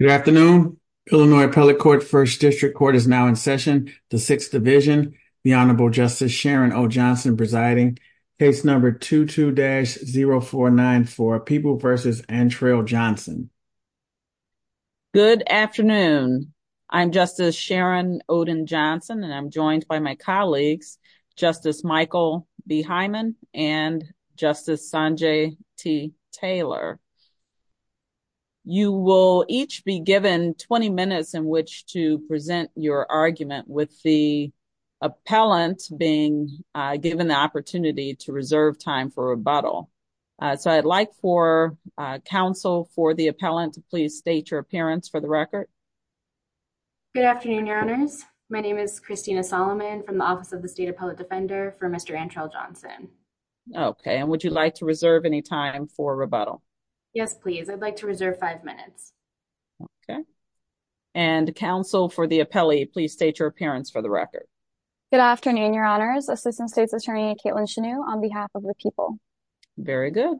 Good afternoon. Illinois Appellate Court First District Court is now in session. The Sixth Division, the Honorable Justice Sharon O. Johnson presiding. Case number 22-0494, Peeble v. Antrell Johnson. Good afternoon. I'm Justice Sharon Oden Johnson, and I'm joined by my colleagues, Justice Michael B. Hyman and Justice Sanjay T. Taylor. You will each be given 20 minutes in which to present your argument with the appellant being given the opportunity to reserve time for rebuttal. So I'd like for counsel for the appellant to please state your appearance for the record. Good afternoon, Your Honors. My name is Christina Solomon from the Office of the State Appellate Defender for Mr. Antrell Johnson. Okay. And would you like to reserve any time for rebuttal? Yes, please. I'd like to reserve five minutes. Okay. And counsel for the appellee, please state your appearance for the record. Good afternoon, Your Honors. Assistant State's Attorney Caitlin Chenew on behalf of the people. Very good.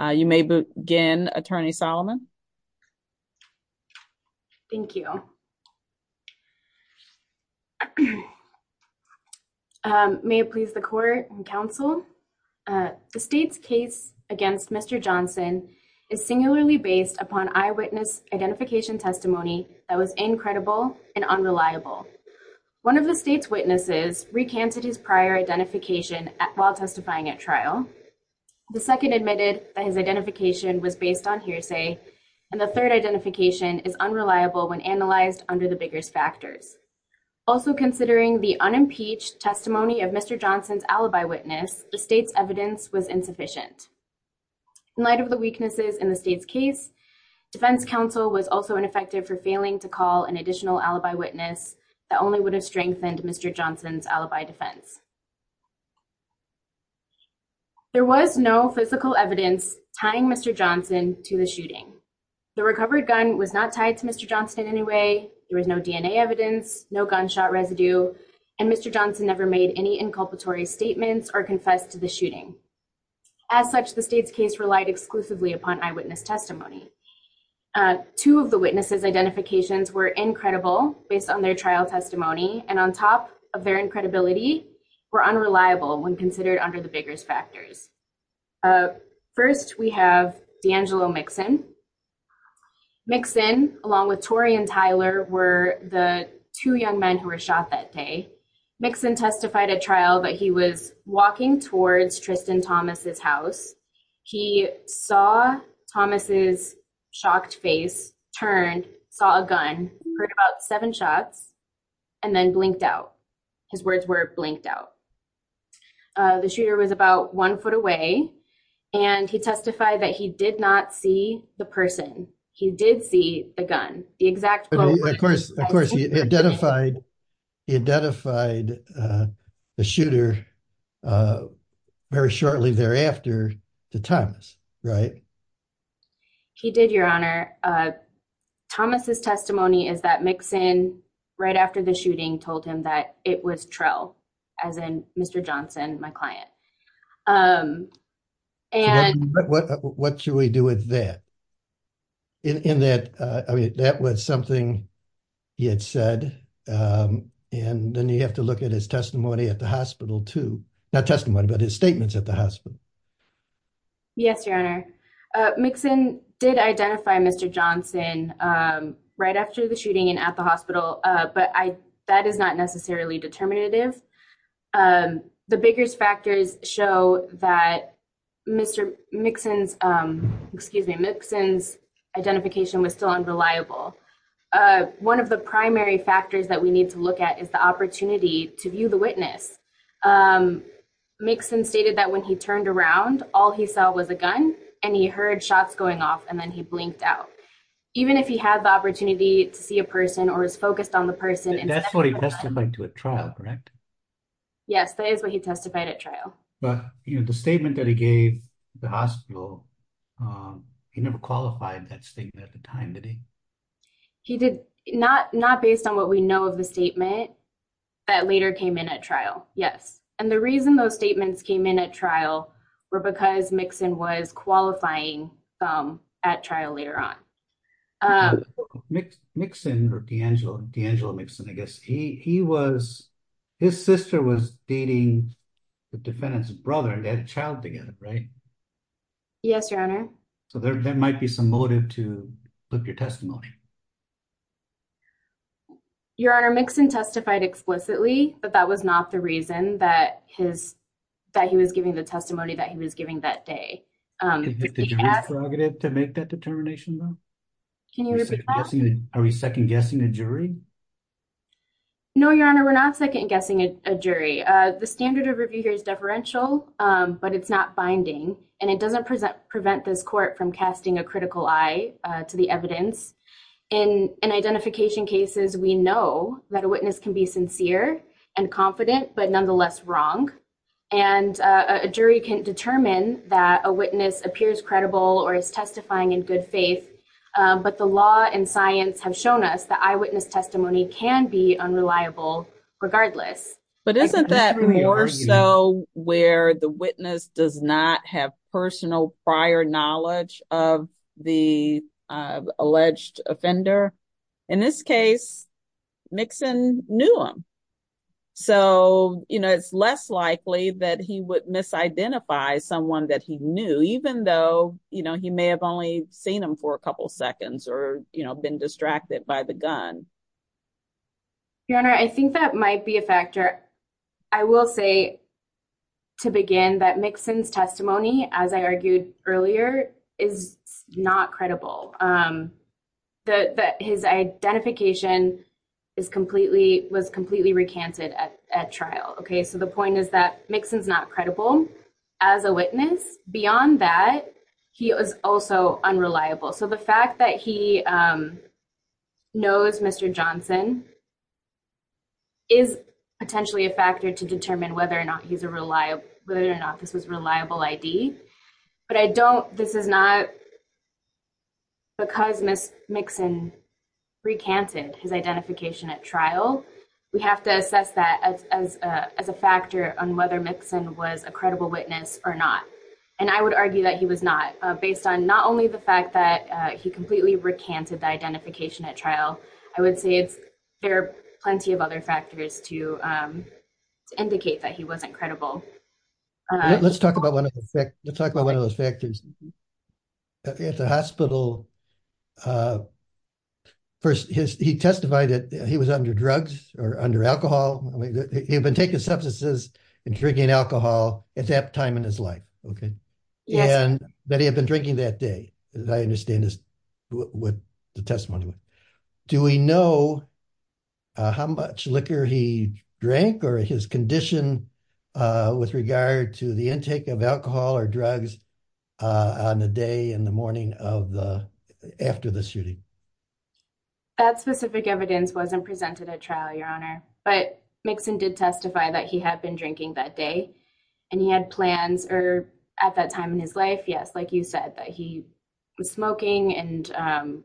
You may begin, Attorney Solomon. Thank you. May it please the court and counsel. The state's case against Mr. Johnson is singularly based upon eyewitness identification testimony that was incredible and unreliable. One of the state's witnesses recanted his prior identification while testifying at trial. The second admitted that his identification was based on hearsay. And the third identification is unreliable when analyzed under the biggest factors. Also considering the unimpeached testimony of Mr. Johnson's alibi witness, the state's evidence was insufficient. In light of the weaknesses in the state's case, defense counsel was also ineffective for failing to call an additional alibi witness that only would have strengthened Mr. Johnson's alibi defense. There was no physical evidence tying Mr. Johnson to the shooting. The recovered gun was not tied to Mr. Johnson in any way. There was no DNA evidence, no gunshot residue. And Mr. Johnson never made any inculpatory statements or confessed to the shooting. As such, the state's case relied exclusively upon eyewitness testimony. Two of the witnesses' identifications were incredible based on their trial testimony, and on top of their incredibility, were unreliable when considered under the biggest factors. First, we have D'Angelo Mixon. Mixon, along with Tory and Tyler, were the two young men who were shot that day. Mixon testified at trial that he was walking towards Tristan Thomas' house. He saw Thomas' shocked face, turned, saw a gun, heard about seven shots, and then blinked out. His words were, blinked out. The shooter was about one foot away, and he testified that he did not see the person. He did see the gun. Of course, he identified the shooter very shortly thereafter to Thomas, right? He did, Your Honor. Thomas' testimony is that Mixon, right after the shooting, told him that it was Trell, as in Mr. Johnson, my client. What should we do with that? That was something he had said, and then you have to look at his testimony at the hospital, too. Not testimony, but his statements at the hospital. Yes, Your Honor. Mixon did identify Mr. Johnson right after the shooting and at the hospital, but that is not necessarily determinative. The biggest factors show that Mr. Mixon's identification was still unreliable. One of the primary factors that we need to look at is the opportunity to view the witness. Mixon stated that when he turned around, all he saw was a gun, and he heard shots going off, and then he blinked out. Even if he had the opportunity to see a person or was focused on the person... That's what he testified to at trial, correct? Yes, that is what he testified at trial. But the statement that he gave at the hospital, he never qualified that statement at the time, did he? Not based on what we know of the statement that later came in at trial, yes. And the reason those statements came in at trial were because Mixon was qualifying them at trial later on. Mixon, or D'Angelo Mixon, I guess, his sister was dating the defendant's brother, and they had a child together, right? Yes, Your Honor. So there might be some motive to flip your testimony. Your Honor, Mixon testified explicitly, but that was not the reason that he was giving the testimony that he was giving that day. Did you have a prerogative to make that determination, though? Are we second-guessing a jury? No, Your Honor, we're not second-guessing a jury. The standard of review here is deferential, but it's not binding. And it doesn't prevent this court from casting a critical eye to the evidence. In identification cases, we know that a witness can be sincere and confident, but nonetheless wrong. And a jury can determine that a witness appears credible or is testifying in good faith. But the law and science have shown us that eyewitness testimony can be unreliable regardless. But isn't that more so where the witness does not have personal prior knowledge of the alleged offender? In this case, Mixon knew him. So, you know, it's less likely that he would misidentify someone that he knew, even though, you know, he may have only seen him for a couple seconds or, you know, been distracted by the gun. Your Honor, I think that might be a factor. I will say to begin that Mixon's testimony, as I argued earlier, is not credible. His identification was completely recanted at trial, okay? So the point is that Mixon's not credible as a witness. Beyond that, he was also unreliable. So the fact that he knows Mr. Johnson is potentially a factor to determine whether or not he's a reliable, whether or not this was a reliable ID. But I don't, this is not, because Mixon recanted his identification at trial, we have to assess that as a factor on whether Mixon was a credible witness or not. And I would argue that he was not, based on not only the fact that he completely recanted the identification at trial. I would say there are plenty of other factors to indicate that he wasn't credible. Let's talk about one of those factors. At the hospital, first, he testified that he was under drugs or under alcohol. He had been taking substances and drinking alcohol at that time in his life, okay? And that he had been drinking that day, as I understand this, with the testimony. Do we know how much liquor he drank or his condition with regard to the intake of alcohol or drugs on the day and the morning of the, after the shooting? That specific evidence wasn't presented at trial, Your Honor. But Mixon did testify that he had been drinking that day. And he had plans, or at that time in his life, yes, like you said, that he was smoking. And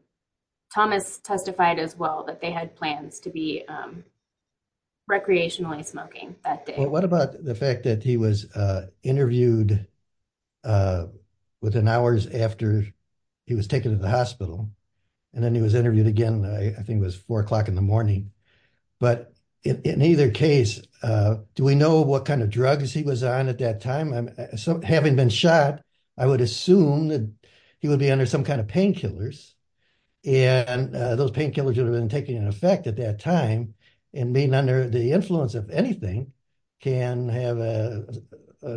Thomas testified as well that they had plans to be recreationally smoking that day. What about the fact that he was interviewed within hours after he was taken to the hospital? And then he was interviewed again, I think it was 4 o'clock in the morning. But in either case, do we know what kind of drugs he was on at that time? Having been shot, I would assume that he would be under some kind of painkillers. And those painkillers would have been taking an effect at that time. And being under the influence of anything can have an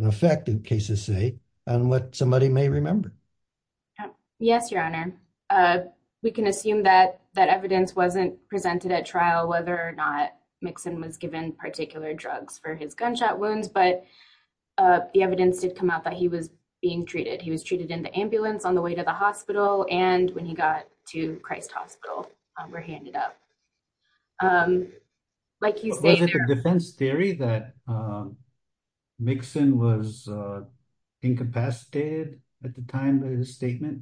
effect, in cases say, on what somebody may remember. Yes, Your Honor. We can assume that that evidence wasn't presented at trial, whether or not Mixon was given particular drugs for his gunshot wounds. But the evidence did come out that he was being treated. He was treated in the ambulance on the way to the hospital. And when he got to Christ Hospital, were handed up. Was it the defense theory that Mixon was incapacitated at the time of his statement?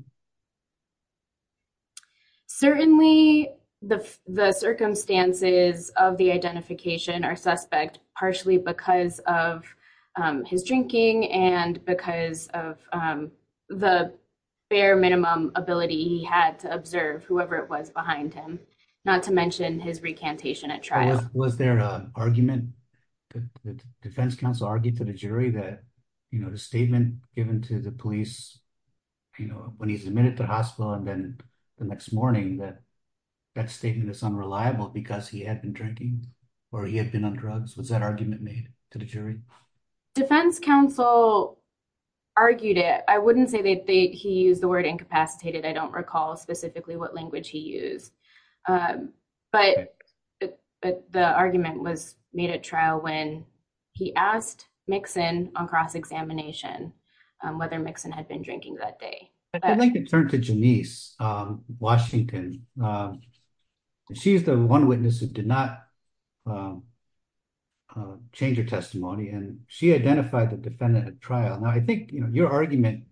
Certainly, the circumstances of the identification are suspect, partially because of his drinking and because of the bare minimum ability he had to observe whoever it was behind him. Not to mention his recantation at trial. Was there an argument that the defense counsel argued to the jury that the statement given to the police when he's admitted to the hospital and then the next morning that that statement is unreliable because he had been drinking or he had been on drugs? Was that argument made to the jury? Defense counsel argued it. I wouldn't say that he used the word incapacitated. I don't recall specifically what language he used. But the argument was made at trial when he asked Mixon on cross-examination whether Mixon had been drinking that day. I think it turned to Janice Washington. She's the one witness who did not change her testimony. I think your argument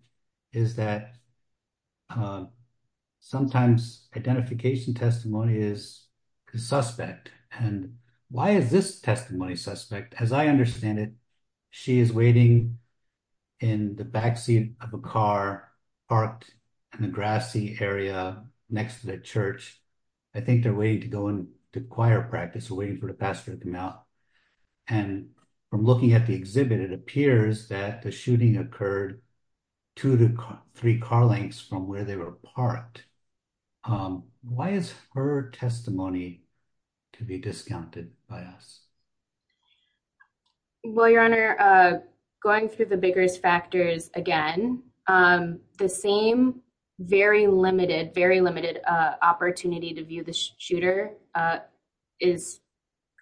is that sometimes identification testimony is suspect. And why is this testimony suspect? As I understand it, she is waiting in the backseat of a car parked in the grassy area next to the church. I think they're waiting to go into choir practice, waiting for the pastor to come out. And from looking at the exhibit, it appears that the shooting occurred two to three car lengths from where they were parked. Why is her testimony to be discounted by us? Well, Your Honor, going through the bigger factors again, the same very limited opportunity to view the shooter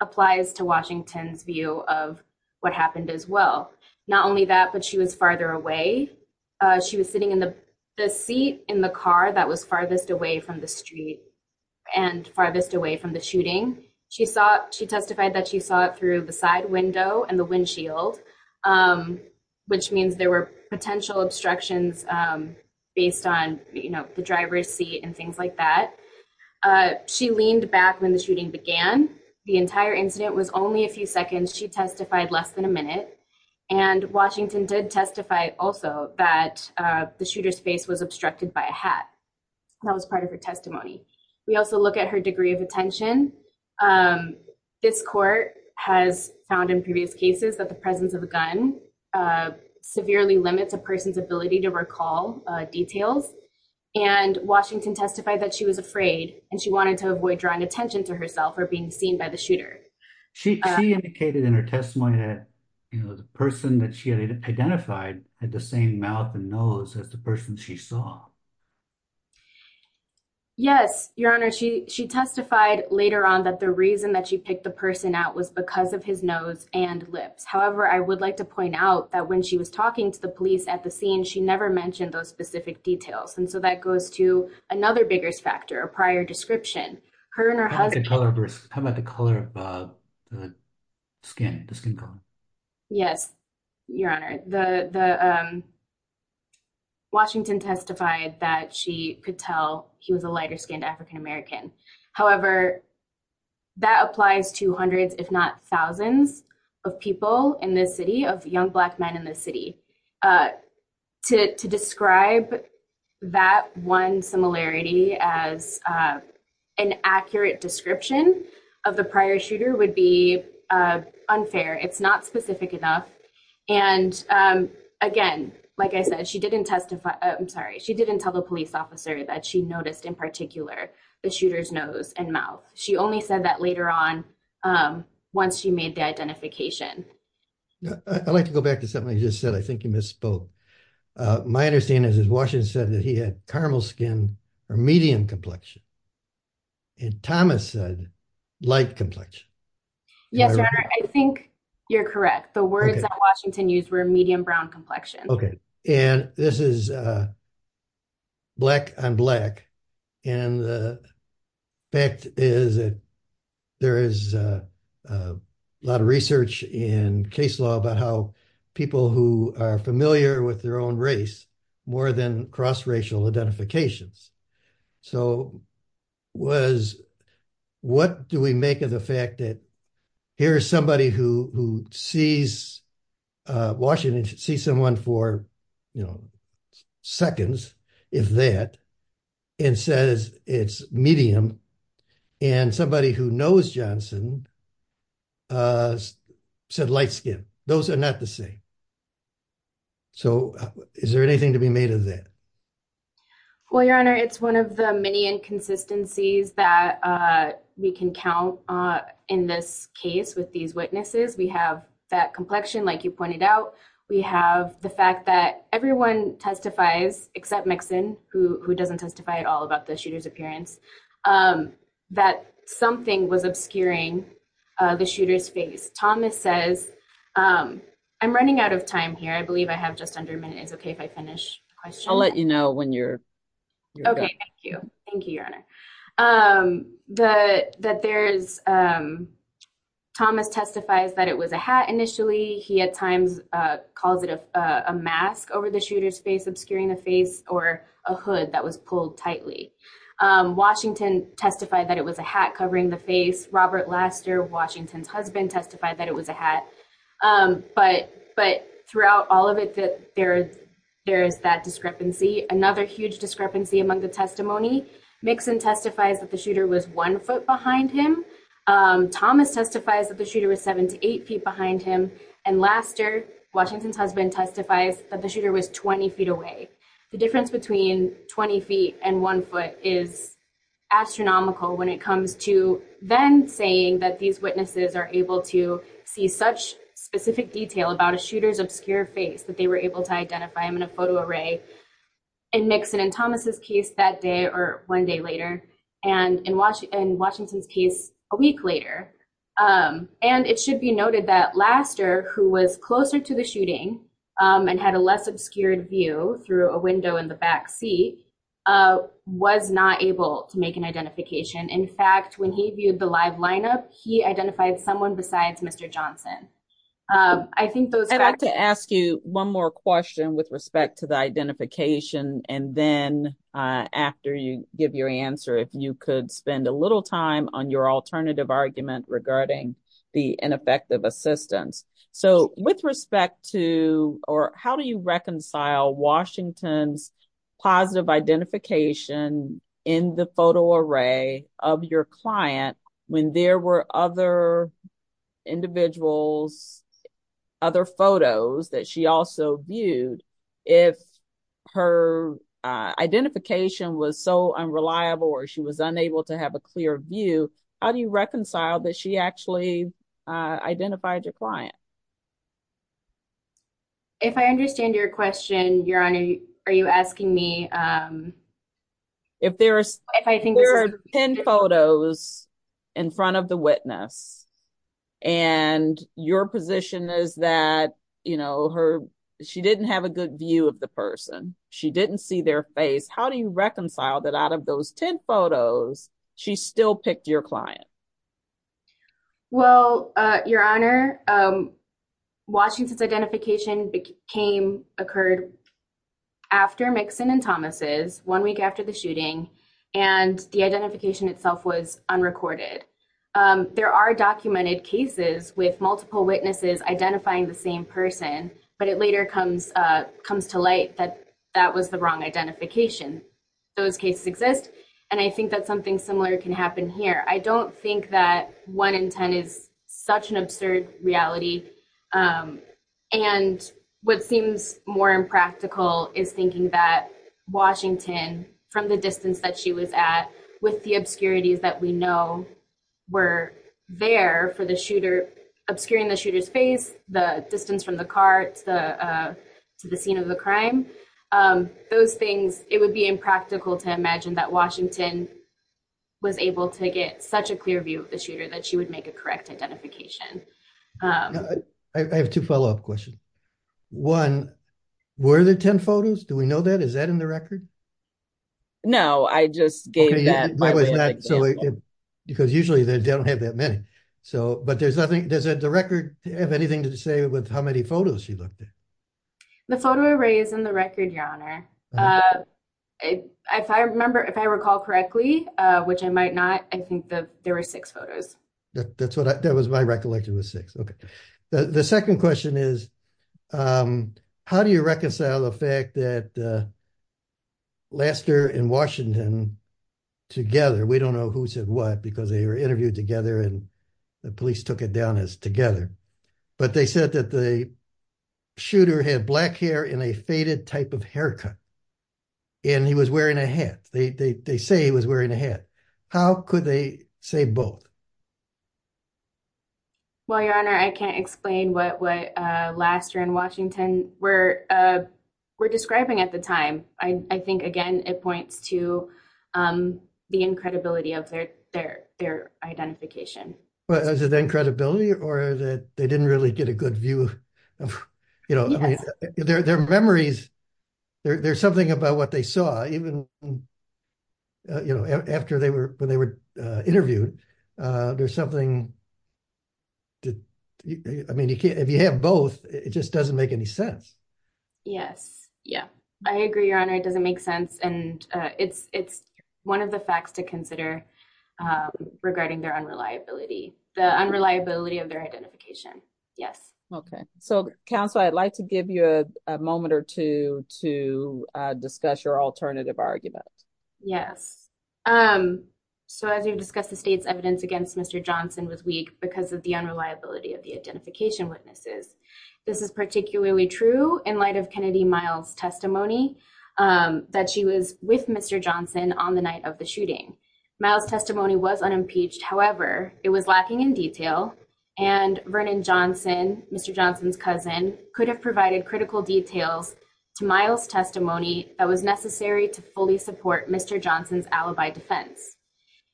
applies to Washington's view of what happened as well. Not only that, but she was farther away. She was sitting in the seat in the car that was farthest away from the street and farthest away from the shooting. She testified that she saw it through the side window and the windshield, which means there were potential obstructions based on the driver's seat and things like that. She leaned back when the shooting began. The entire incident was only a few seconds. She testified less than a minute. And Washington did testify also that the shooter's face was obstructed by a hat. That was part of her testimony. We also look at her degree of attention. This court has found in previous cases that the presence of a gun severely limits a person's ability to recall details. And Washington testified that she was afraid and she wanted to avoid drawing attention to herself or being seen by the shooter. She indicated in her testimony that the person that she had identified had the same mouth and nose as the person she saw. Yes, Your Honor. She testified later on that the reason that she picked the person out was because of his nose and lips. However, I would like to point out that when she was talking to the police at the scene, she never mentioned those specific details. And so that goes to another bigger factor, a prior description. Her and her husband. How about the color of the skin? Yes, Your Honor. The Washington testified that she could tell he was a lighter-skinned African-American. However, that applies to hundreds, if not thousands, of people in this city, of young black men in this city. To describe that one similarity as an accurate description of the prior shooter would be unfair. It's not specific enough. And again, like I said, she didn't testify. I'm sorry. She didn't tell the police officer that she noticed in particular the shooter's nose and mouth. She only said that later on once she made the identification. I'd like to go back to something I just said. I think you misspoke. My understanding is that Washington said that he had caramel skin or medium complexion. And Thomas said light complexion. Yes, Your Honor. I think you're correct. The words that Washington used were medium brown complexion. Okay. And this is black on black. And the fact is that there is a lot of research in case law about how people who are familiar with their own race, more than cross-racial identifications. So what do we make of the fact that here is somebody who sees Washington, sees someone for seconds, if that, and says it's medium. And somebody who knows Johnson said light skin. Those are not the same. So is there anything to be made of that? Well, Your Honor, it's one of the many inconsistencies that we can count in this case with these witnesses. We have that complexion, like you pointed out. We have the fact that everyone testifies, except Mixon, who doesn't testify at all about the shooter's appearance, that something was obscuring the shooter's face. Thomas says, I'm running out of time here. I believe I have just under a minute. Is it okay if I finish the question? I'll let you know when you're done. Okay. Thank you. Thank you, Your Honor. Thomas testifies that it was a hat initially. He at times calls it a mask over the shooter's face, obscuring the face, or a hood that was pulled tightly. Washington testified that it was a hat covering the face. Robert Laster, Washington's husband, testified that it was a hat. But throughout all of it, there is that discrepancy. Another huge discrepancy among the testimony, Mixon testifies that the shooter was one foot behind him. Thomas testifies that the shooter was seven to eight feet behind him. And Laster, Washington's husband, testifies that the shooter was 20 feet away. The difference between 20 feet and one foot is astronomical when it comes to then saying that these witnesses are able to see such specific detail about a shooter's obscure face that they were able to identify him in a photo array in Mixon, in Thomas's case, that day or one day later, and in Washington's case, a week later. And it should be noted that Laster, who was closer to the shooting and had a less obscured view through a window in the backseat, was not able to make an identification. In fact, when he viewed the live lineup, he identified someone besides Mr. Johnson. I'd like to ask you one more question with respect to the identification. And then after you give your answer, if you could spend a little time on your alternative argument regarding the ineffective assistance. So with respect to or how do you reconcile Washington's positive identification in the photo array of your client when there were other individuals, other photos that she also viewed if her identification was so unreliable or she was unable to have a clear view? How do you reconcile that she actually identified your client? If I understand your question, Your Honor, are you asking me? If there are 10 photos in front of the witness and your position is that she didn't have a good view of the person, she didn't see their face, how do you reconcile that out of those 10 photos, she still picked your client? Well, Your Honor, Washington's identification occurred after Mixon and Thomas's, one week after the shooting, and the identification itself was unrecorded. There are documented cases with multiple witnesses identifying the same person, but it later comes to light that that was the wrong identification. Those cases exist, and I think that something similar can happen here. I don't think that 1 in 10 is such an absurd reality. And what seems more impractical is thinking that Washington, from the distance that she was at, with the obscurities that we know were there for the shooter, obscuring the shooter's face, the distance from the car to the scene of the crime, those things, it would be impractical to imagine that Washington was able to get such a clear view of the shooter that she would make a correct identification. I have two follow-up questions. One, were there 10 photos? Do we know that? Is that in the record? No, I just gave that by way of example. Because usually they don't have that many. But does the record have anything to say with how many photos she looked at? The photo array is in the record, Your Honor. If I recall correctly, which I might not, I think that there were six photos. That was my recollection, was six. Okay. The second question is, how do you reconcile the fact that Laster and Washington together, we don't know who said what, because they were interviewed together and the police took it down as together, but they said that the shooter had black hair and a faded type of haircut. And he was wearing a hat. They say he was wearing a hat. How could they say both? Well, Your Honor, I can't explain what Laster and Washington were describing at the time. I think, again, it points to the incredibility of their identification. Was it the incredibility or that they didn't really get a good view of, you know, their memories. There's something about what they saw, even, you know, after they were, when they were interviewed. There's something, I mean, if you have both, it just doesn't make any sense. Yes. Yeah, I agree, Your Honor. It doesn't make sense. And it's, it's one of the facts to consider regarding their unreliability, the unreliability of their identification. Yes. Okay, so counsel, I'd like to give you a moment or two to discuss your alternative argument. Yes. So, as you've discussed, the state's evidence against Mr. Johnson was weak because of the unreliability of the identification witnesses. This is particularly true in light of Kennedy Miles' testimony that she was with Mr. Johnson on the night of the shooting. Miles' testimony was unimpeached. However, it was lacking in detail and Vernon Johnson, Mr. Johnson's cousin, could have provided critical details to Miles' testimony that was necessary to fully support Mr. Johnson's alibi defense.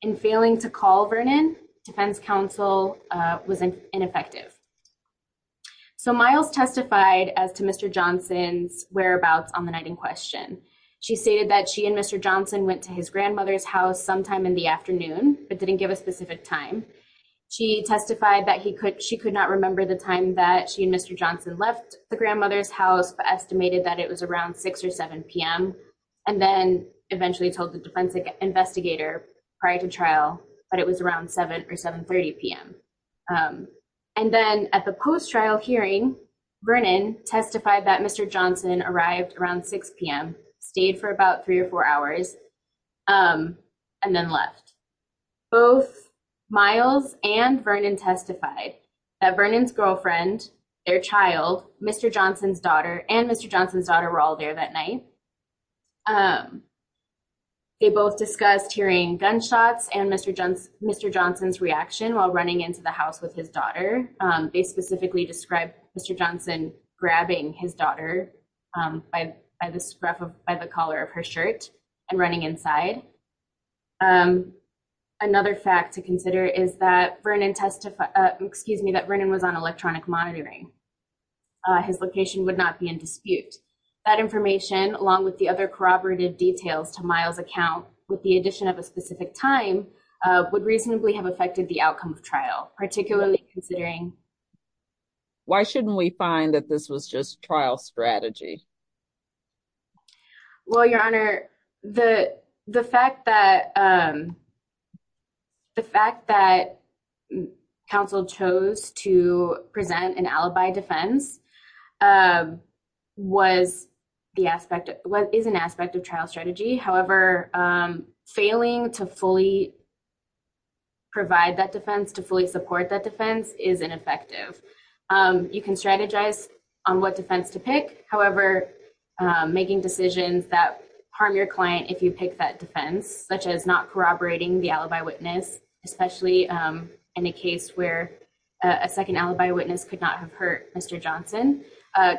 In failing to call Vernon, defense counsel was ineffective. So, Miles testified as to Mr. Johnson's whereabouts on the night in question. She stated that she and Mr. Johnson went to his grandmother's house sometime in the afternoon, but didn't give a specific time. She testified that he could, she could not remember the time that she and Mr. Johnson left the grandmother's house, but estimated that it was around 6 or 7 p.m. And then eventually told the defense investigator prior to trial that it was around 7 or 7.30 p.m. And then at the post-trial hearing, Vernon testified that Mr. Johnson arrived around 6 p.m., stayed for about three or four hours, and then left. Both Miles and Vernon testified that Vernon's girlfriend, their child, Mr. Johnson's daughter, and Mr. Johnson's daughter were all there that night. They both discussed hearing gunshots and Mr. Johnson's reaction while running into the house with his daughter. They specifically described Mr. Johnson grabbing his daughter by the collar of her shirt and running inside. Another fact to consider is that Vernon testified, excuse me, that Vernon was on electronic monitoring. His location would not be in dispute. That information, along with the other corroborative details to Miles' account with the addition of a specific time, would reasonably have affected the outcome of trial, particularly considering... Why shouldn't we find that this was just trial strategy? Well, Your Honor, the fact that counsel chose to present an alibi defense is an aspect of trial strategy. However, failing to fully provide that defense, to fully support that defense, is ineffective. You can strategize on what defense to pick. However, making decisions that harm your client if you pick that defense, such as not corroborating the alibi witness, especially in a case where a second alibi witness could not have hurt Mr. Johnson,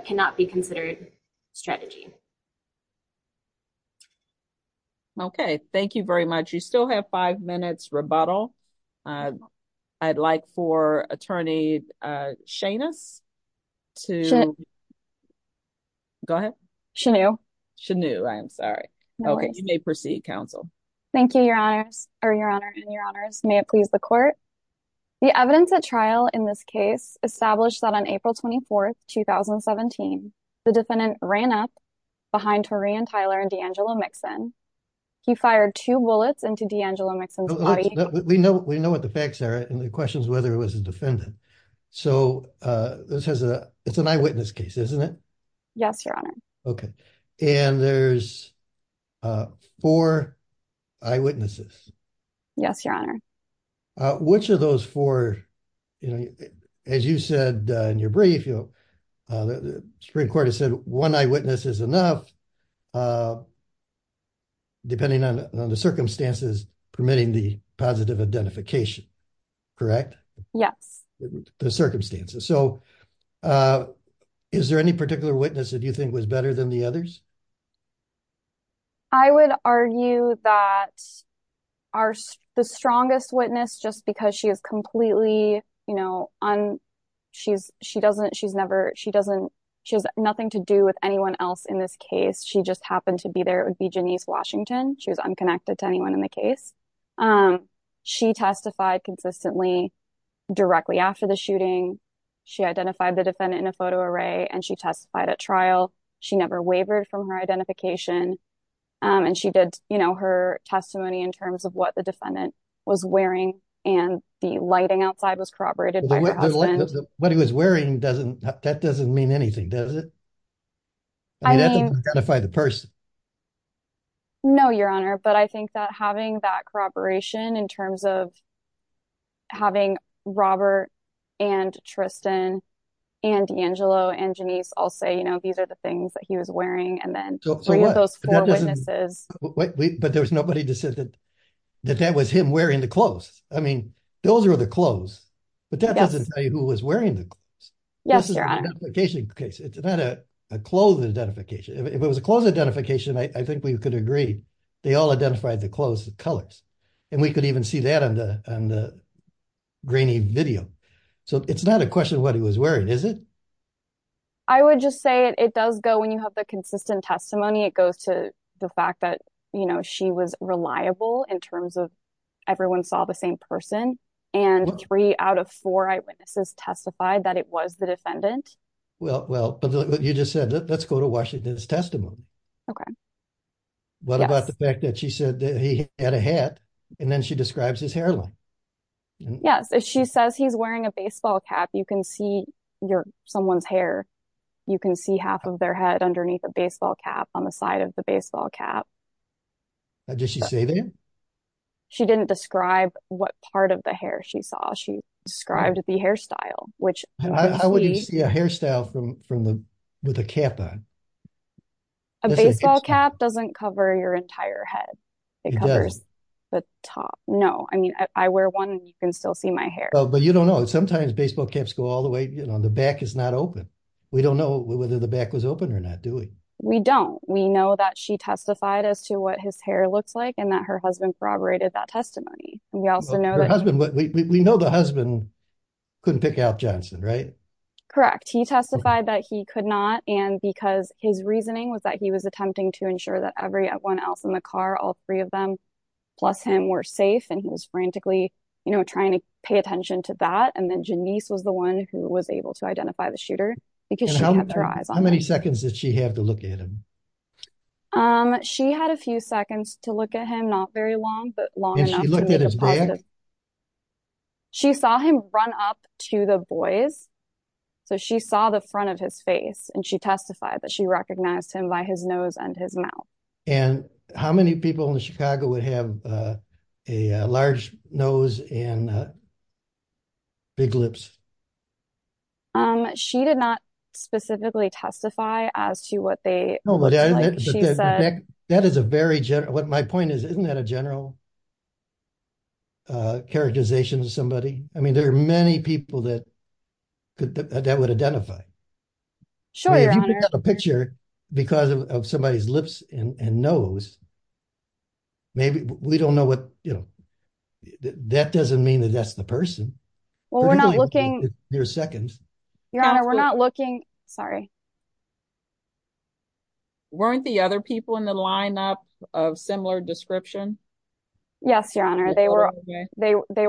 cannot be considered strategy. Okay, thank you very much. You still have five minutes rebuttal. I'd like for Attorney Shanus to... Shanu. Shanu. Shanu, I'm sorry. No worries. Okay, you may proceed, counsel. Thank you, Your Honor, and Your Honors. May it please the court. The evidence at trial in this case established that on April 24th, 2017, the defendant ran up behind Torean Tyler and D'Angelo Mixon. He fired two bullets into D'Angelo Mixon's body. We know what the facts are, and the question is whether it was a defendant. So, this is an eyewitness case, isn't it? Yes, Your Honor. Okay. And there's four eyewitnesses. Yes, Your Honor. Which of those four, as you said in your brief, the Supreme Court has said one eyewitness is enough, depending on the circumstances, permitting the positive identification. Correct? Yes. The circumstances. So, is there any particular witness that you think was better than the others? I would argue that the strongest witness, just because she is completely, you know, she doesn't, she's never, she doesn't, she has nothing to do with anyone else in this case. She just happened to be there. It would be Janice Washington. She was unconnected to anyone in the case. She testified consistently directly after the shooting. She identified the defendant in a photo array, and she testified at trial. She never wavered from her identification. And she did, you know, her testimony in terms of what the defendant was wearing, and the lighting outside was corroborated by her husband. What he was wearing doesn't, that doesn't mean anything, does it? I mean, that doesn't identify the person. No, Your Honor. But I think that having that corroboration in terms of having Robert and Tristan and Angelo and Janice all say, you know, these are the things that he was wearing, and then three of those four witnesses. But there was nobody that said that that was him wearing the clothes. I mean, those are the clothes. But that doesn't tell you who was wearing the clothes. Yes, Your Honor. This is an identification case. It's not a clothes identification. If it was a clothes identification, I think we could agree. They all identified the clothes, the colors. And we could even see that on the grainy video. So it's not a question of what he was wearing, is it? I would just say it does go, when you have the consistent testimony, it goes to the fact that, you know, she was reliable in terms of everyone saw the same person. And three out of four eyewitnesses testified that it was the defendant. Well, but you just said, let's go to Washington's testimony. Okay. What about the fact that she said that he had a hat, and then she describes his hairline? Yes. If she says he's wearing a baseball cap, you can see someone's hair. You can see half of their head underneath a baseball cap on the side of the baseball cap. Did she say that? She didn't describe what part of the hair she saw. She described the hairstyle. How would you see a hairstyle with a cap on? A baseball cap doesn't cover your entire head. It covers the top. No. I mean, I wear one, and you can still see my hair. But you don't know. Sometimes baseball caps go all the way, you know, the back is not open. We don't know whether the back was open or not, do we? We don't. Her husband. We know the husband couldn't pick out Johnson, right? Correct. He testified that he could not, and because his reasoning was that he was attempting to ensure that everyone else in the car, all three of them, plus him, were safe, and he was frantically, you know, trying to pay attention to that. And then Janice was the one who was able to identify the shooter, because she had their eyes on him. How many seconds did she have to look at him? She had a few seconds to look at him. And she looked at his back? And how many people in Chicago would have a large nose and big lips? She did not specifically testify as to what they, like she said. That is a very, what my point is, isn't that a general characterization of somebody? I mean, there are many people that would identify. Sure, Your Honor. If you pick up a picture because of somebody's lips and nose, maybe, we don't know what, you know, that doesn't mean that that's the person. Well, we're not looking. Your second. Your Honor, we're not looking. Sorry. Weren't the other people in the lineup of similar description? Yes, Your Honor. They were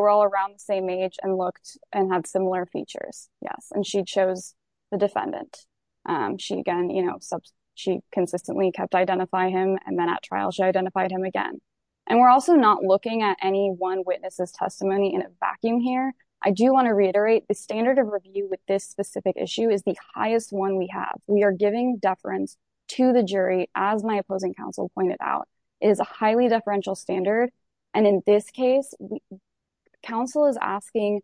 all around the same age and looked and had similar features. Yes. And she chose the defendant. She again, you know, she consistently kept identifying him. And then at trial, she identified him again. And we're also not looking at any one witness's testimony in a vacuum here. I do want to reiterate the standard of review with this specific issue is the highest one we have. We are giving deference to the jury, as my opposing counsel pointed out, is a highly deferential standard. And in this case, counsel is asking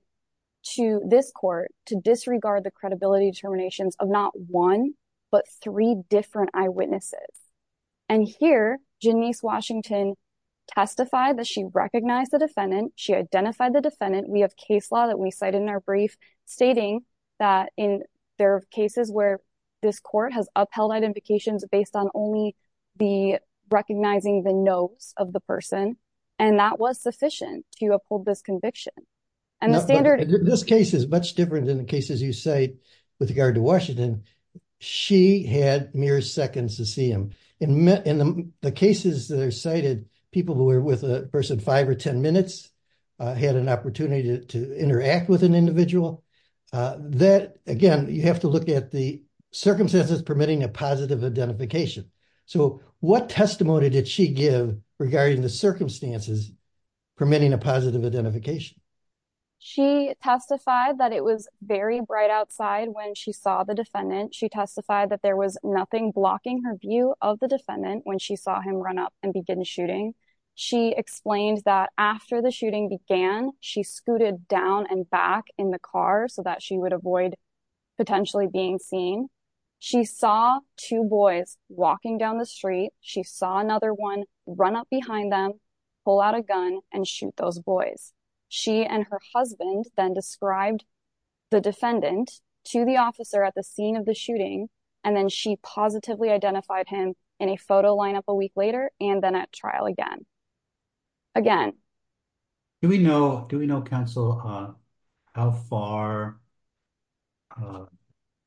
to this court to disregard the credibility determinations of not one, but three different eyewitnesses. And here, Janice Washington testified that she recognized the defendant. She identified the defendant. We have case law that we cited in our brief stating that in their cases where this court has upheld identifications based on only the recognizing the nose of the person. And that was sufficient to uphold this conviction. This case is much different than the cases you cite with regard to Washington. She had mere seconds to see him. In the cases that are cited, people who were with a person five or ten minutes had an opportunity to interact with an individual. That, again, you have to look at the circumstances permitting a positive identification. So what testimony did she give regarding the circumstances permitting a positive identification? She testified that it was very bright outside when she saw the defendant. She testified that there was nothing blocking her view of the defendant when she saw him run up and begin shooting. She explained that after the shooting began, she scooted down and back in the car so that she would avoid potentially being seen. She saw two boys walking down the street. She saw another one run up behind them, pull out a gun, and shoot those boys. She and her husband then described the defendant to the officer at the scene of the shooting. And then she positively identified him in a photo lineup a week later and then at trial again. Again. Do we know, Council, how far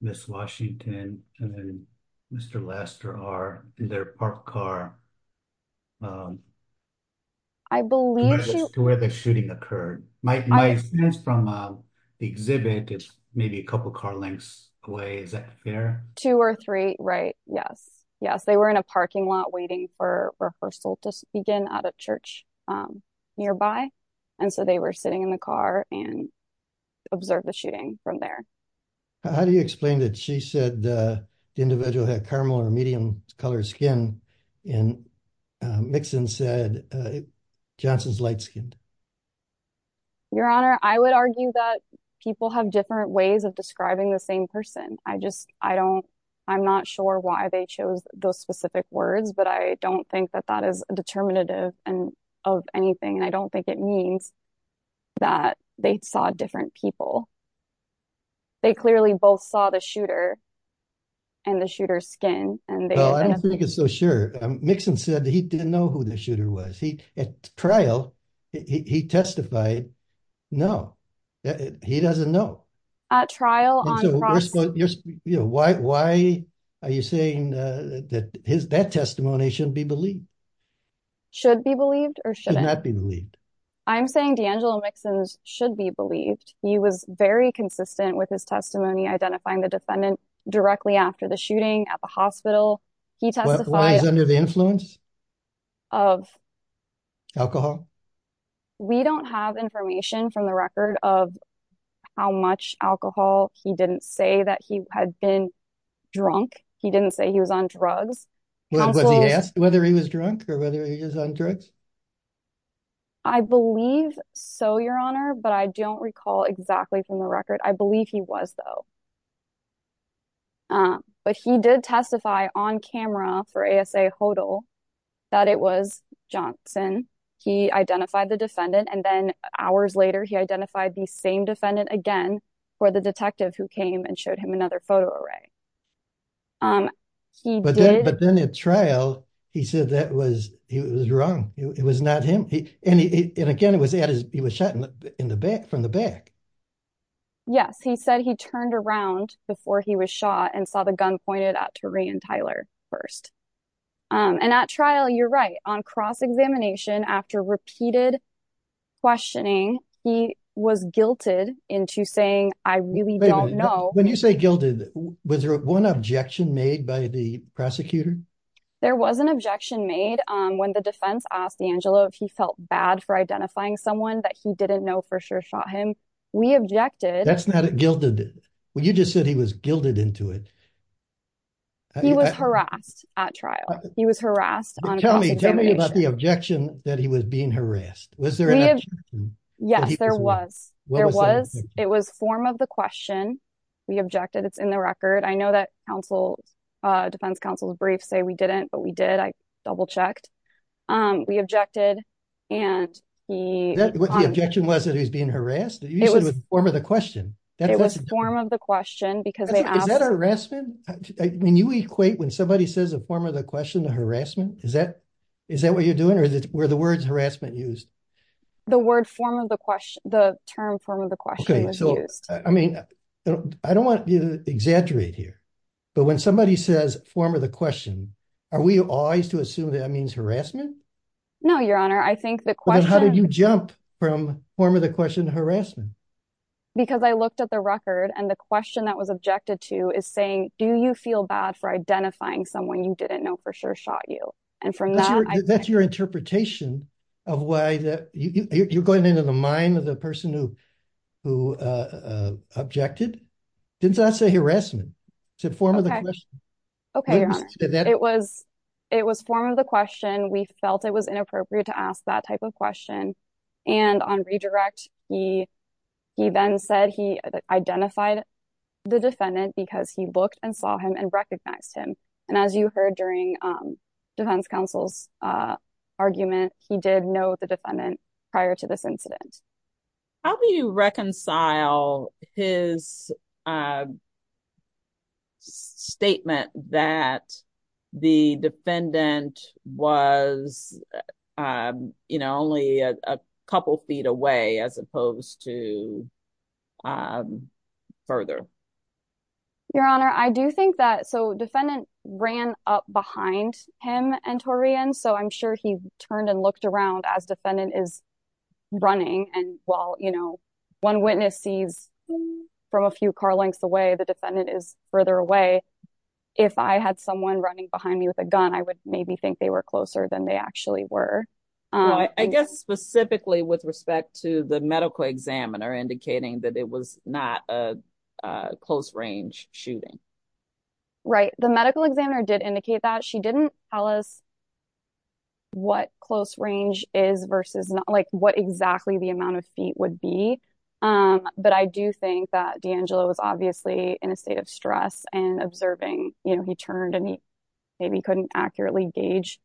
Ms. Washington and Mr. Lester are in their parked car to where the shooting occurred? My sense from the exhibit is maybe a couple car lengths away. Is that fair? Two or three, right. Yes. Yes, they were in a parking lot waiting for a rehearsal to begin at a church nearby. And so they were sitting in the car and observed the shooting from there. How do you explain that she said the individual had caramel or medium colored skin and Mixon said Johnson's light skinned? Your Honor, I would argue that people have different ways of describing the same person. I just I don't I'm not sure why they chose those specific words, but I don't think that that is determinative of anything. And I don't think it means that they saw different people. They clearly both saw the shooter. And the shooter's skin. I don't think it's so sure. Mixon said he didn't know who the shooter was. At trial, he testified. No, he doesn't know. At trial. Why are you saying that his that testimony should be believed? Should be believed or should not be believed. I'm saying D'Angelo Mixon should be believed. He was very consistent with his testimony, identifying the defendant directly after the shooting at the hospital. He testified under the influence of alcohol. We don't have information from the record of how much alcohol he didn't say that he had been drunk. He didn't say he was on drugs. Was he asked whether he was drunk or whether he was on drugs? I believe so, Your Honor, but I don't recall exactly from the record. I believe he was, though. But he did testify on camera for A.S.A. Hodel that it was Johnson. He identified the defendant and then hours later he identified the same defendant again for the detective who came and showed him another photo array. But then at trial, he said that was he was wrong. It was not him. And again, it was he was shot in the back from the back. Yes, he said he turned around before he was shot and saw the gun pointed out to Ray and Tyler first. And at trial, you're right on cross-examination after repeated questioning, he was guilted into saying, I really don't know. When you say guilted, was there one objection made by the prosecutor? There was an objection made when the defense asked D'Angelo if he felt bad for identifying someone that he didn't know for sure shot him. We objected. That's not a gilded. Well, you just said he was gilded into it. He was harassed at trial. He was harassed. Tell me, tell me about the objection that he was being harassed. Was there? Yes, there was. There was. It was form of the question we objected. It's in the record. I know that counsel defense counsel's brief say we didn't, but we did. I double checked. We objected. And the objection was that he was being harassed. It was form of the question. It was form of the question because that harassment. When you equate when somebody says a form of the question to harassment, is that is that what you're doing? Or is it where the words harassment used? The word form of the question, the term form of the question. So, I mean, I don't want to exaggerate here, but when somebody says form of the question, are we always to assume that means harassment? No, Your Honor. I think the question. How did you jump from form of the question to harassment? Because I looked at the record and the question that was objected to is saying, do you feel bad for identifying someone you didn't know for sure shot you? And from that, that's your interpretation of why you're going into the mind of the person who who objected. Did that say harassment to form of the question? OK, it was it was form of the question. We felt it was inappropriate to ask that type of question. And on redirect, he he then said he identified the defendant because he looked and saw him and recognized him. And as you heard during defense counsel's argument, he did know the defendant prior to this incident. How do you reconcile his statement that the defendant was, you know, only a couple of feet away as opposed to further? Your Honor, I do think that so defendant ran up behind him and Torian, so I'm sure he turned and looked around as defendant is running. And while, you know, one witness sees from a few car lengths away, the defendant is further away. If I had someone running behind me with a gun, I would maybe think they were closer than they actually were. I guess specifically with respect to the medical examiner indicating that it was not a close range shooting. Right. The medical examiner did indicate that she didn't tell us. What close range is versus not like what exactly the amount of feet would be. But I do think that D'Angelo was obviously in a state of stress and observing. You know, he turned and he maybe couldn't accurately gauge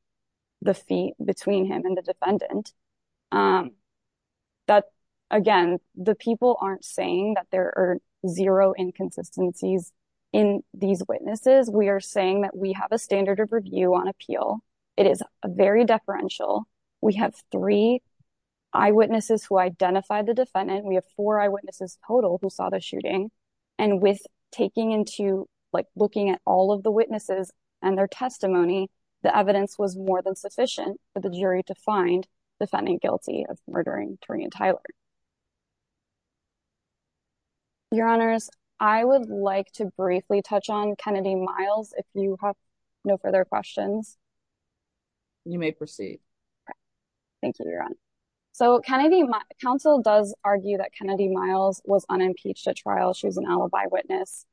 the feet between him and the defendant. That, again, the people aren't saying that there are zero inconsistencies in these witnesses. We are saying that we have a standard of review on appeal. It is a very deferential. We have three eyewitnesses who identified the defendant. We have four eyewitnesses total who saw the shooting. And with taking into like looking at all of the witnesses and their testimony, the evidence was more than sufficient for the jury to find the defendant guilty of murdering Torian Tyler. Your honors, I would like to briefly touch on Kennedy Miles. If you have no further questions. You may proceed. Thank you, Your Honor. So Kennedy, counsel does argue that Kennedy Miles was unimpeached at trial. She was an alibi witness.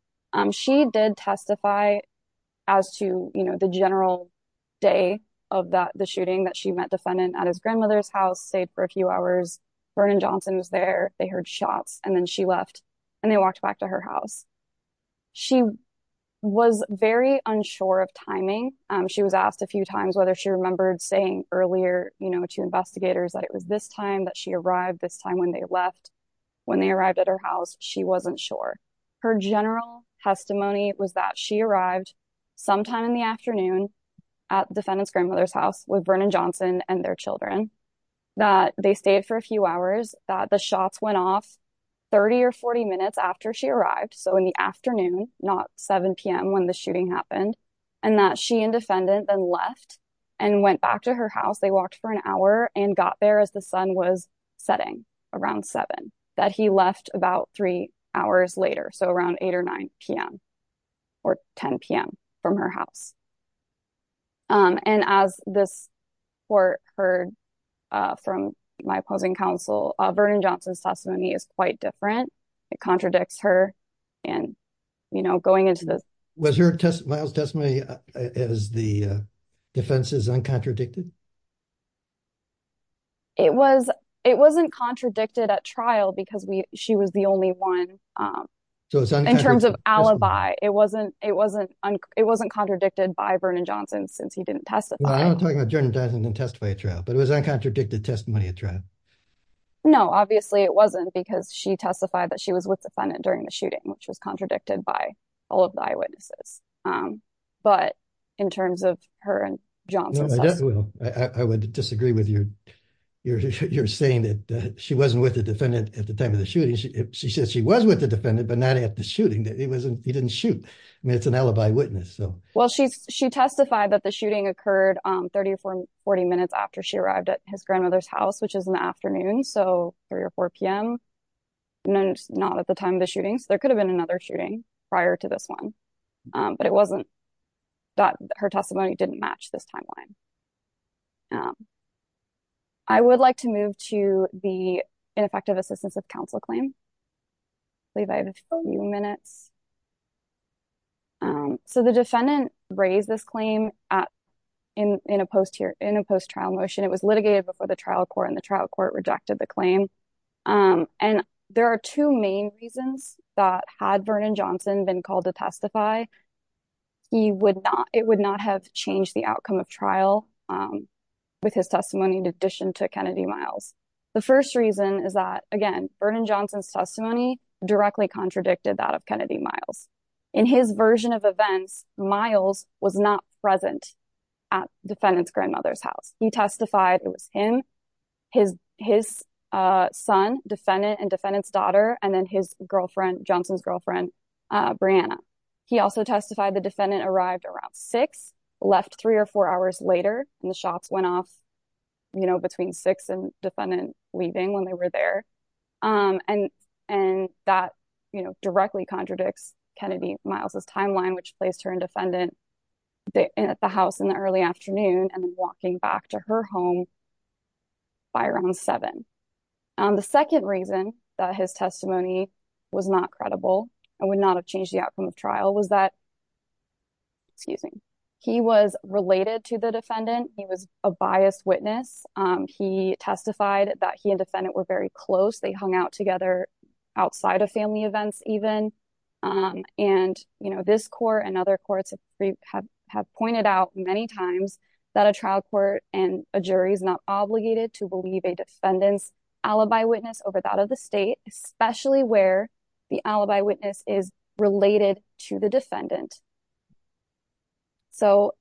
She did testify as to, you know, the general day of the shooting that she met defendant at his grandmother's house, stayed for a few hours. Vernon Johnson was there. They heard shots and then she left and they walked back to her house. She was very unsure of timing. She was asked a few times whether she remembered saying earlier, you know, to investigators that it was this time that she arrived this time when they left. When they arrived at her house, she wasn't sure. Her general testimony was that she arrived sometime in the afternoon at defendant's grandmother's house with Vernon Johnson and their children, that they stayed for a few hours, that the shots went off 30 or 40 minutes after she arrived. So in the afternoon, not 7 p.m. when the shooting happened and that she and defendant then left and went back to her house. They walked for an hour and got there as the sun was setting around 7, that he left about three hours later. So around 8 or 9 p.m. or 10 p.m. from her house. And as this court heard from my opposing counsel, Vernon Johnson's testimony is quite different. It contradicts her. And, you know, going into this. Was her testimony as the defense's uncontradicted? It was it wasn't contradicted at trial because she was the only one. So in terms of alibi, it wasn't it wasn't it wasn't contradicted by Vernon Johnson since he didn't testify. I'm talking about general doesn't testify at trial, but it was uncontradicted testimony at trial. No, obviously it wasn't because she testified that she was with defendant during the shooting, which was contradicted by all of the eyewitnesses. But in terms of her and Johnson, I would disagree with you. You're saying that she wasn't with the defendant at the time of the shooting. She says she was with the defendant, but not at the shooting. It wasn't he didn't shoot. I mean, it's an alibi witness. So, well, she's she testified that the shooting occurred 30 or 40 minutes after she arrived at his grandmother's house, which is an afternoon. So three or four p.m. Not at the time of the shooting. So there could have been another shooting prior to this one. But it wasn't that her testimony didn't match this timeline. I would like to move to the ineffective assistance of counsel claim. You minutes. So the defendant raised this claim in a post here in a post trial motion. It was litigated before the trial court and the trial court rejected the claim. And there are two main reasons that had Vernon Johnson been called to testify. He would not it would not have changed the outcome of trial with his testimony in addition to Kennedy miles. The first reason is that, again, Vernon Johnson's testimony directly contradicted that of Kennedy miles in his version of events. Miles was not present at the defendant's grandmother's house. He testified it was him, his his son, defendant and defendant's daughter, and then his girlfriend, Johnson's girlfriend, Brianna. He also testified the defendant arrived around six, left three or four hours later. And the shots went off, you know, between six and defendant leaving when they were there. And and that, you know, directly contradicts Kennedy miles's timeline, which placed her in defendant at the house in the early afternoon and walking back to her home. By around seven. The second reason that his testimony was not credible and would not have changed the outcome of trial was that. Excuse me. He was related to the defendant. He was a biased witness. He testified that he and defendant were very close. They hung out together outside of family events even. And, you know, this court and other courts have pointed out many times that a trial court and a jury is not obligated to believe a defendant's alibi witness over that of the state, especially where the alibi witness is related to the defendant. So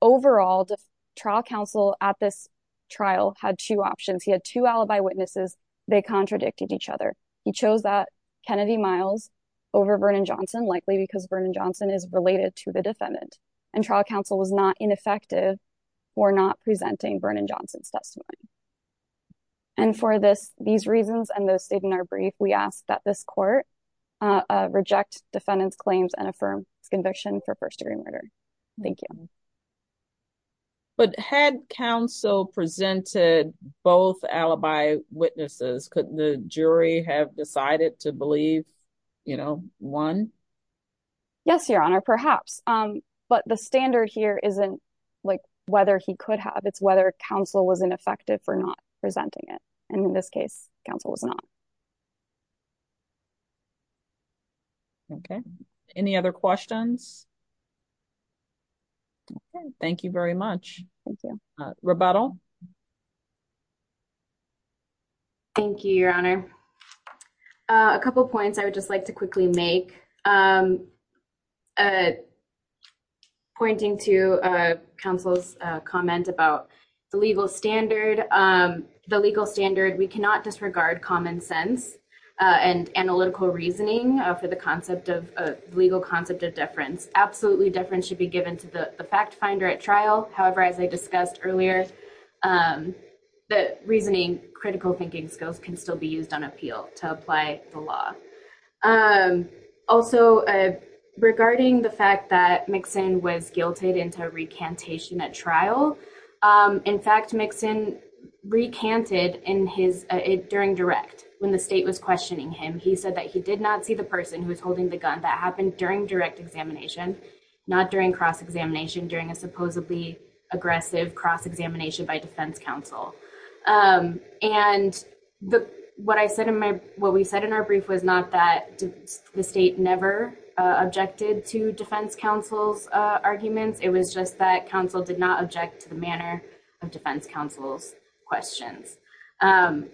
overall, the trial counsel at this trial had two options. He had two alibi witnesses. They contradicted each other. He chose that Kennedy miles over Vernon Johnson, likely because Vernon Johnson is related to the defendant. And trial counsel was not ineffective for not presenting Vernon Johnson's testimony. And for this, these reasons and those state in our brief, we ask that this court reject defendants claims and affirm conviction for first degree murder. Thank you. But had counsel presented both alibi witnesses, the jury have decided to believe, you know, one. Yes, Your Honor, perhaps. But the standard here isn't like whether he could have. It's whether counsel was ineffective for not presenting it. And in this case, counsel was not. Okay. Any other questions? Thank you very much. Thank you. Rebuttal. Thank you, Your Honor. A couple of points I would just like to quickly make. Pointing to counsel's comment about the legal standard, the legal standard. We cannot disregard common sense and analytical reasoning for the concept of legal concept of deference. Absolutely. Deference should be given to the fact finder at trial. However, as I discussed earlier, the reasoning, critical thinking skills can still be used on appeal to apply the law. Also, regarding the fact that Mixon was guilted into recantation at trial. In fact, Mixon recanted in his during direct when the state was questioning him. He said that he did not see the person who was holding the gun that happened during direct examination, not during cross examination, during a supposedly aggressive cross examination by defense counsel. And what I said in my what we said in our brief was not that the state never objected to defense counsel's arguments. It was just that counsel did not object to the manner of defense counsel's questions. And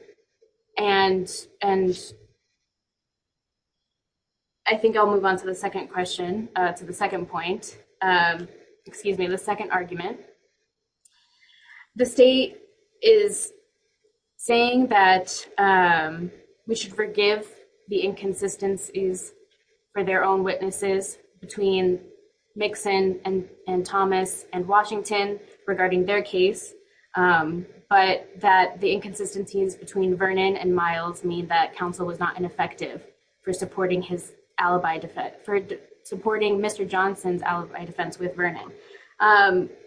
and. I think I'll move on to the second question to the second point. Excuse me, the second argument. The state is saying that we should forgive the inconsistencies for their own witnesses between Mixon and Thomas and Washington regarding their case. But that the inconsistencies between Vernon and Miles mean that counsel was not ineffective for supporting his alibi for supporting Mr. Johnson's alibi defense with Vernon.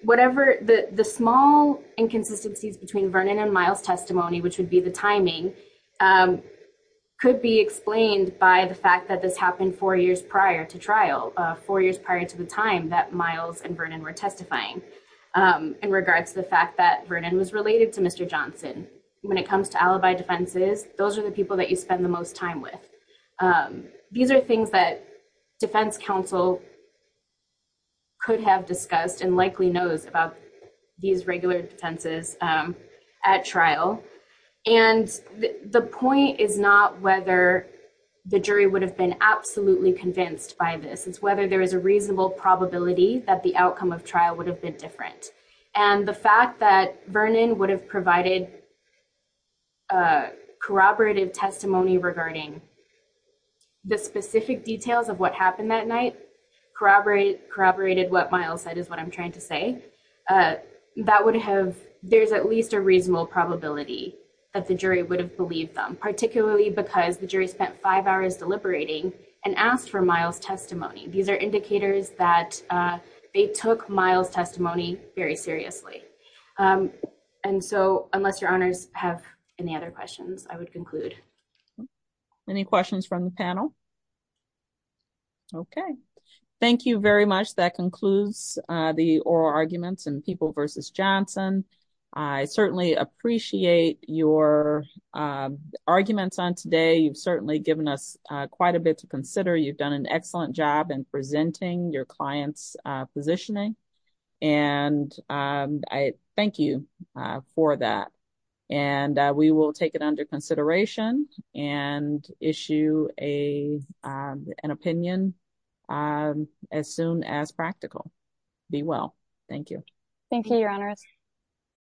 Whatever the small inconsistencies between Vernon and Miles testimony, which would be the timing. Could be explained by the fact that this happened four years prior to trial four years prior to the time that Miles and Vernon were testifying. In regards to the fact that Vernon was related to Mr. Johnson when it comes to alibi defenses. Those are the people that you spend the most time with. These are things that defense counsel. Could have discussed and likely knows about these regular defenses at trial. And the point is not whether the jury would have been absolutely convinced by this is whether there is a reasonable probability that the outcome of trial would have been different. And the fact that Vernon would have provided corroborative testimony regarding the specific details of what happened that night corroborated what Miles said is what I'm trying to say. That would have there's at least a reasonable probability that the jury would have believed them, particularly because the jury spent five hours deliberating and asked for Miles testimony. These are indicators that they took Miles testimony very seriously. And so unless your honors have any other questions, I would conclude. Any questions from the panel? Okay, thank you very much. That concludes the oral arguments and people versus Johnson. I certainly appreciate your arguments on today. You've certainly given us quite a bit to consider. You've done an excellent job in presenting your clients positioning, and I thank you for that. And we will take it under consideration and issue a an opinion as soon as practical. Be well. Thank you. Thank you, Your Honor.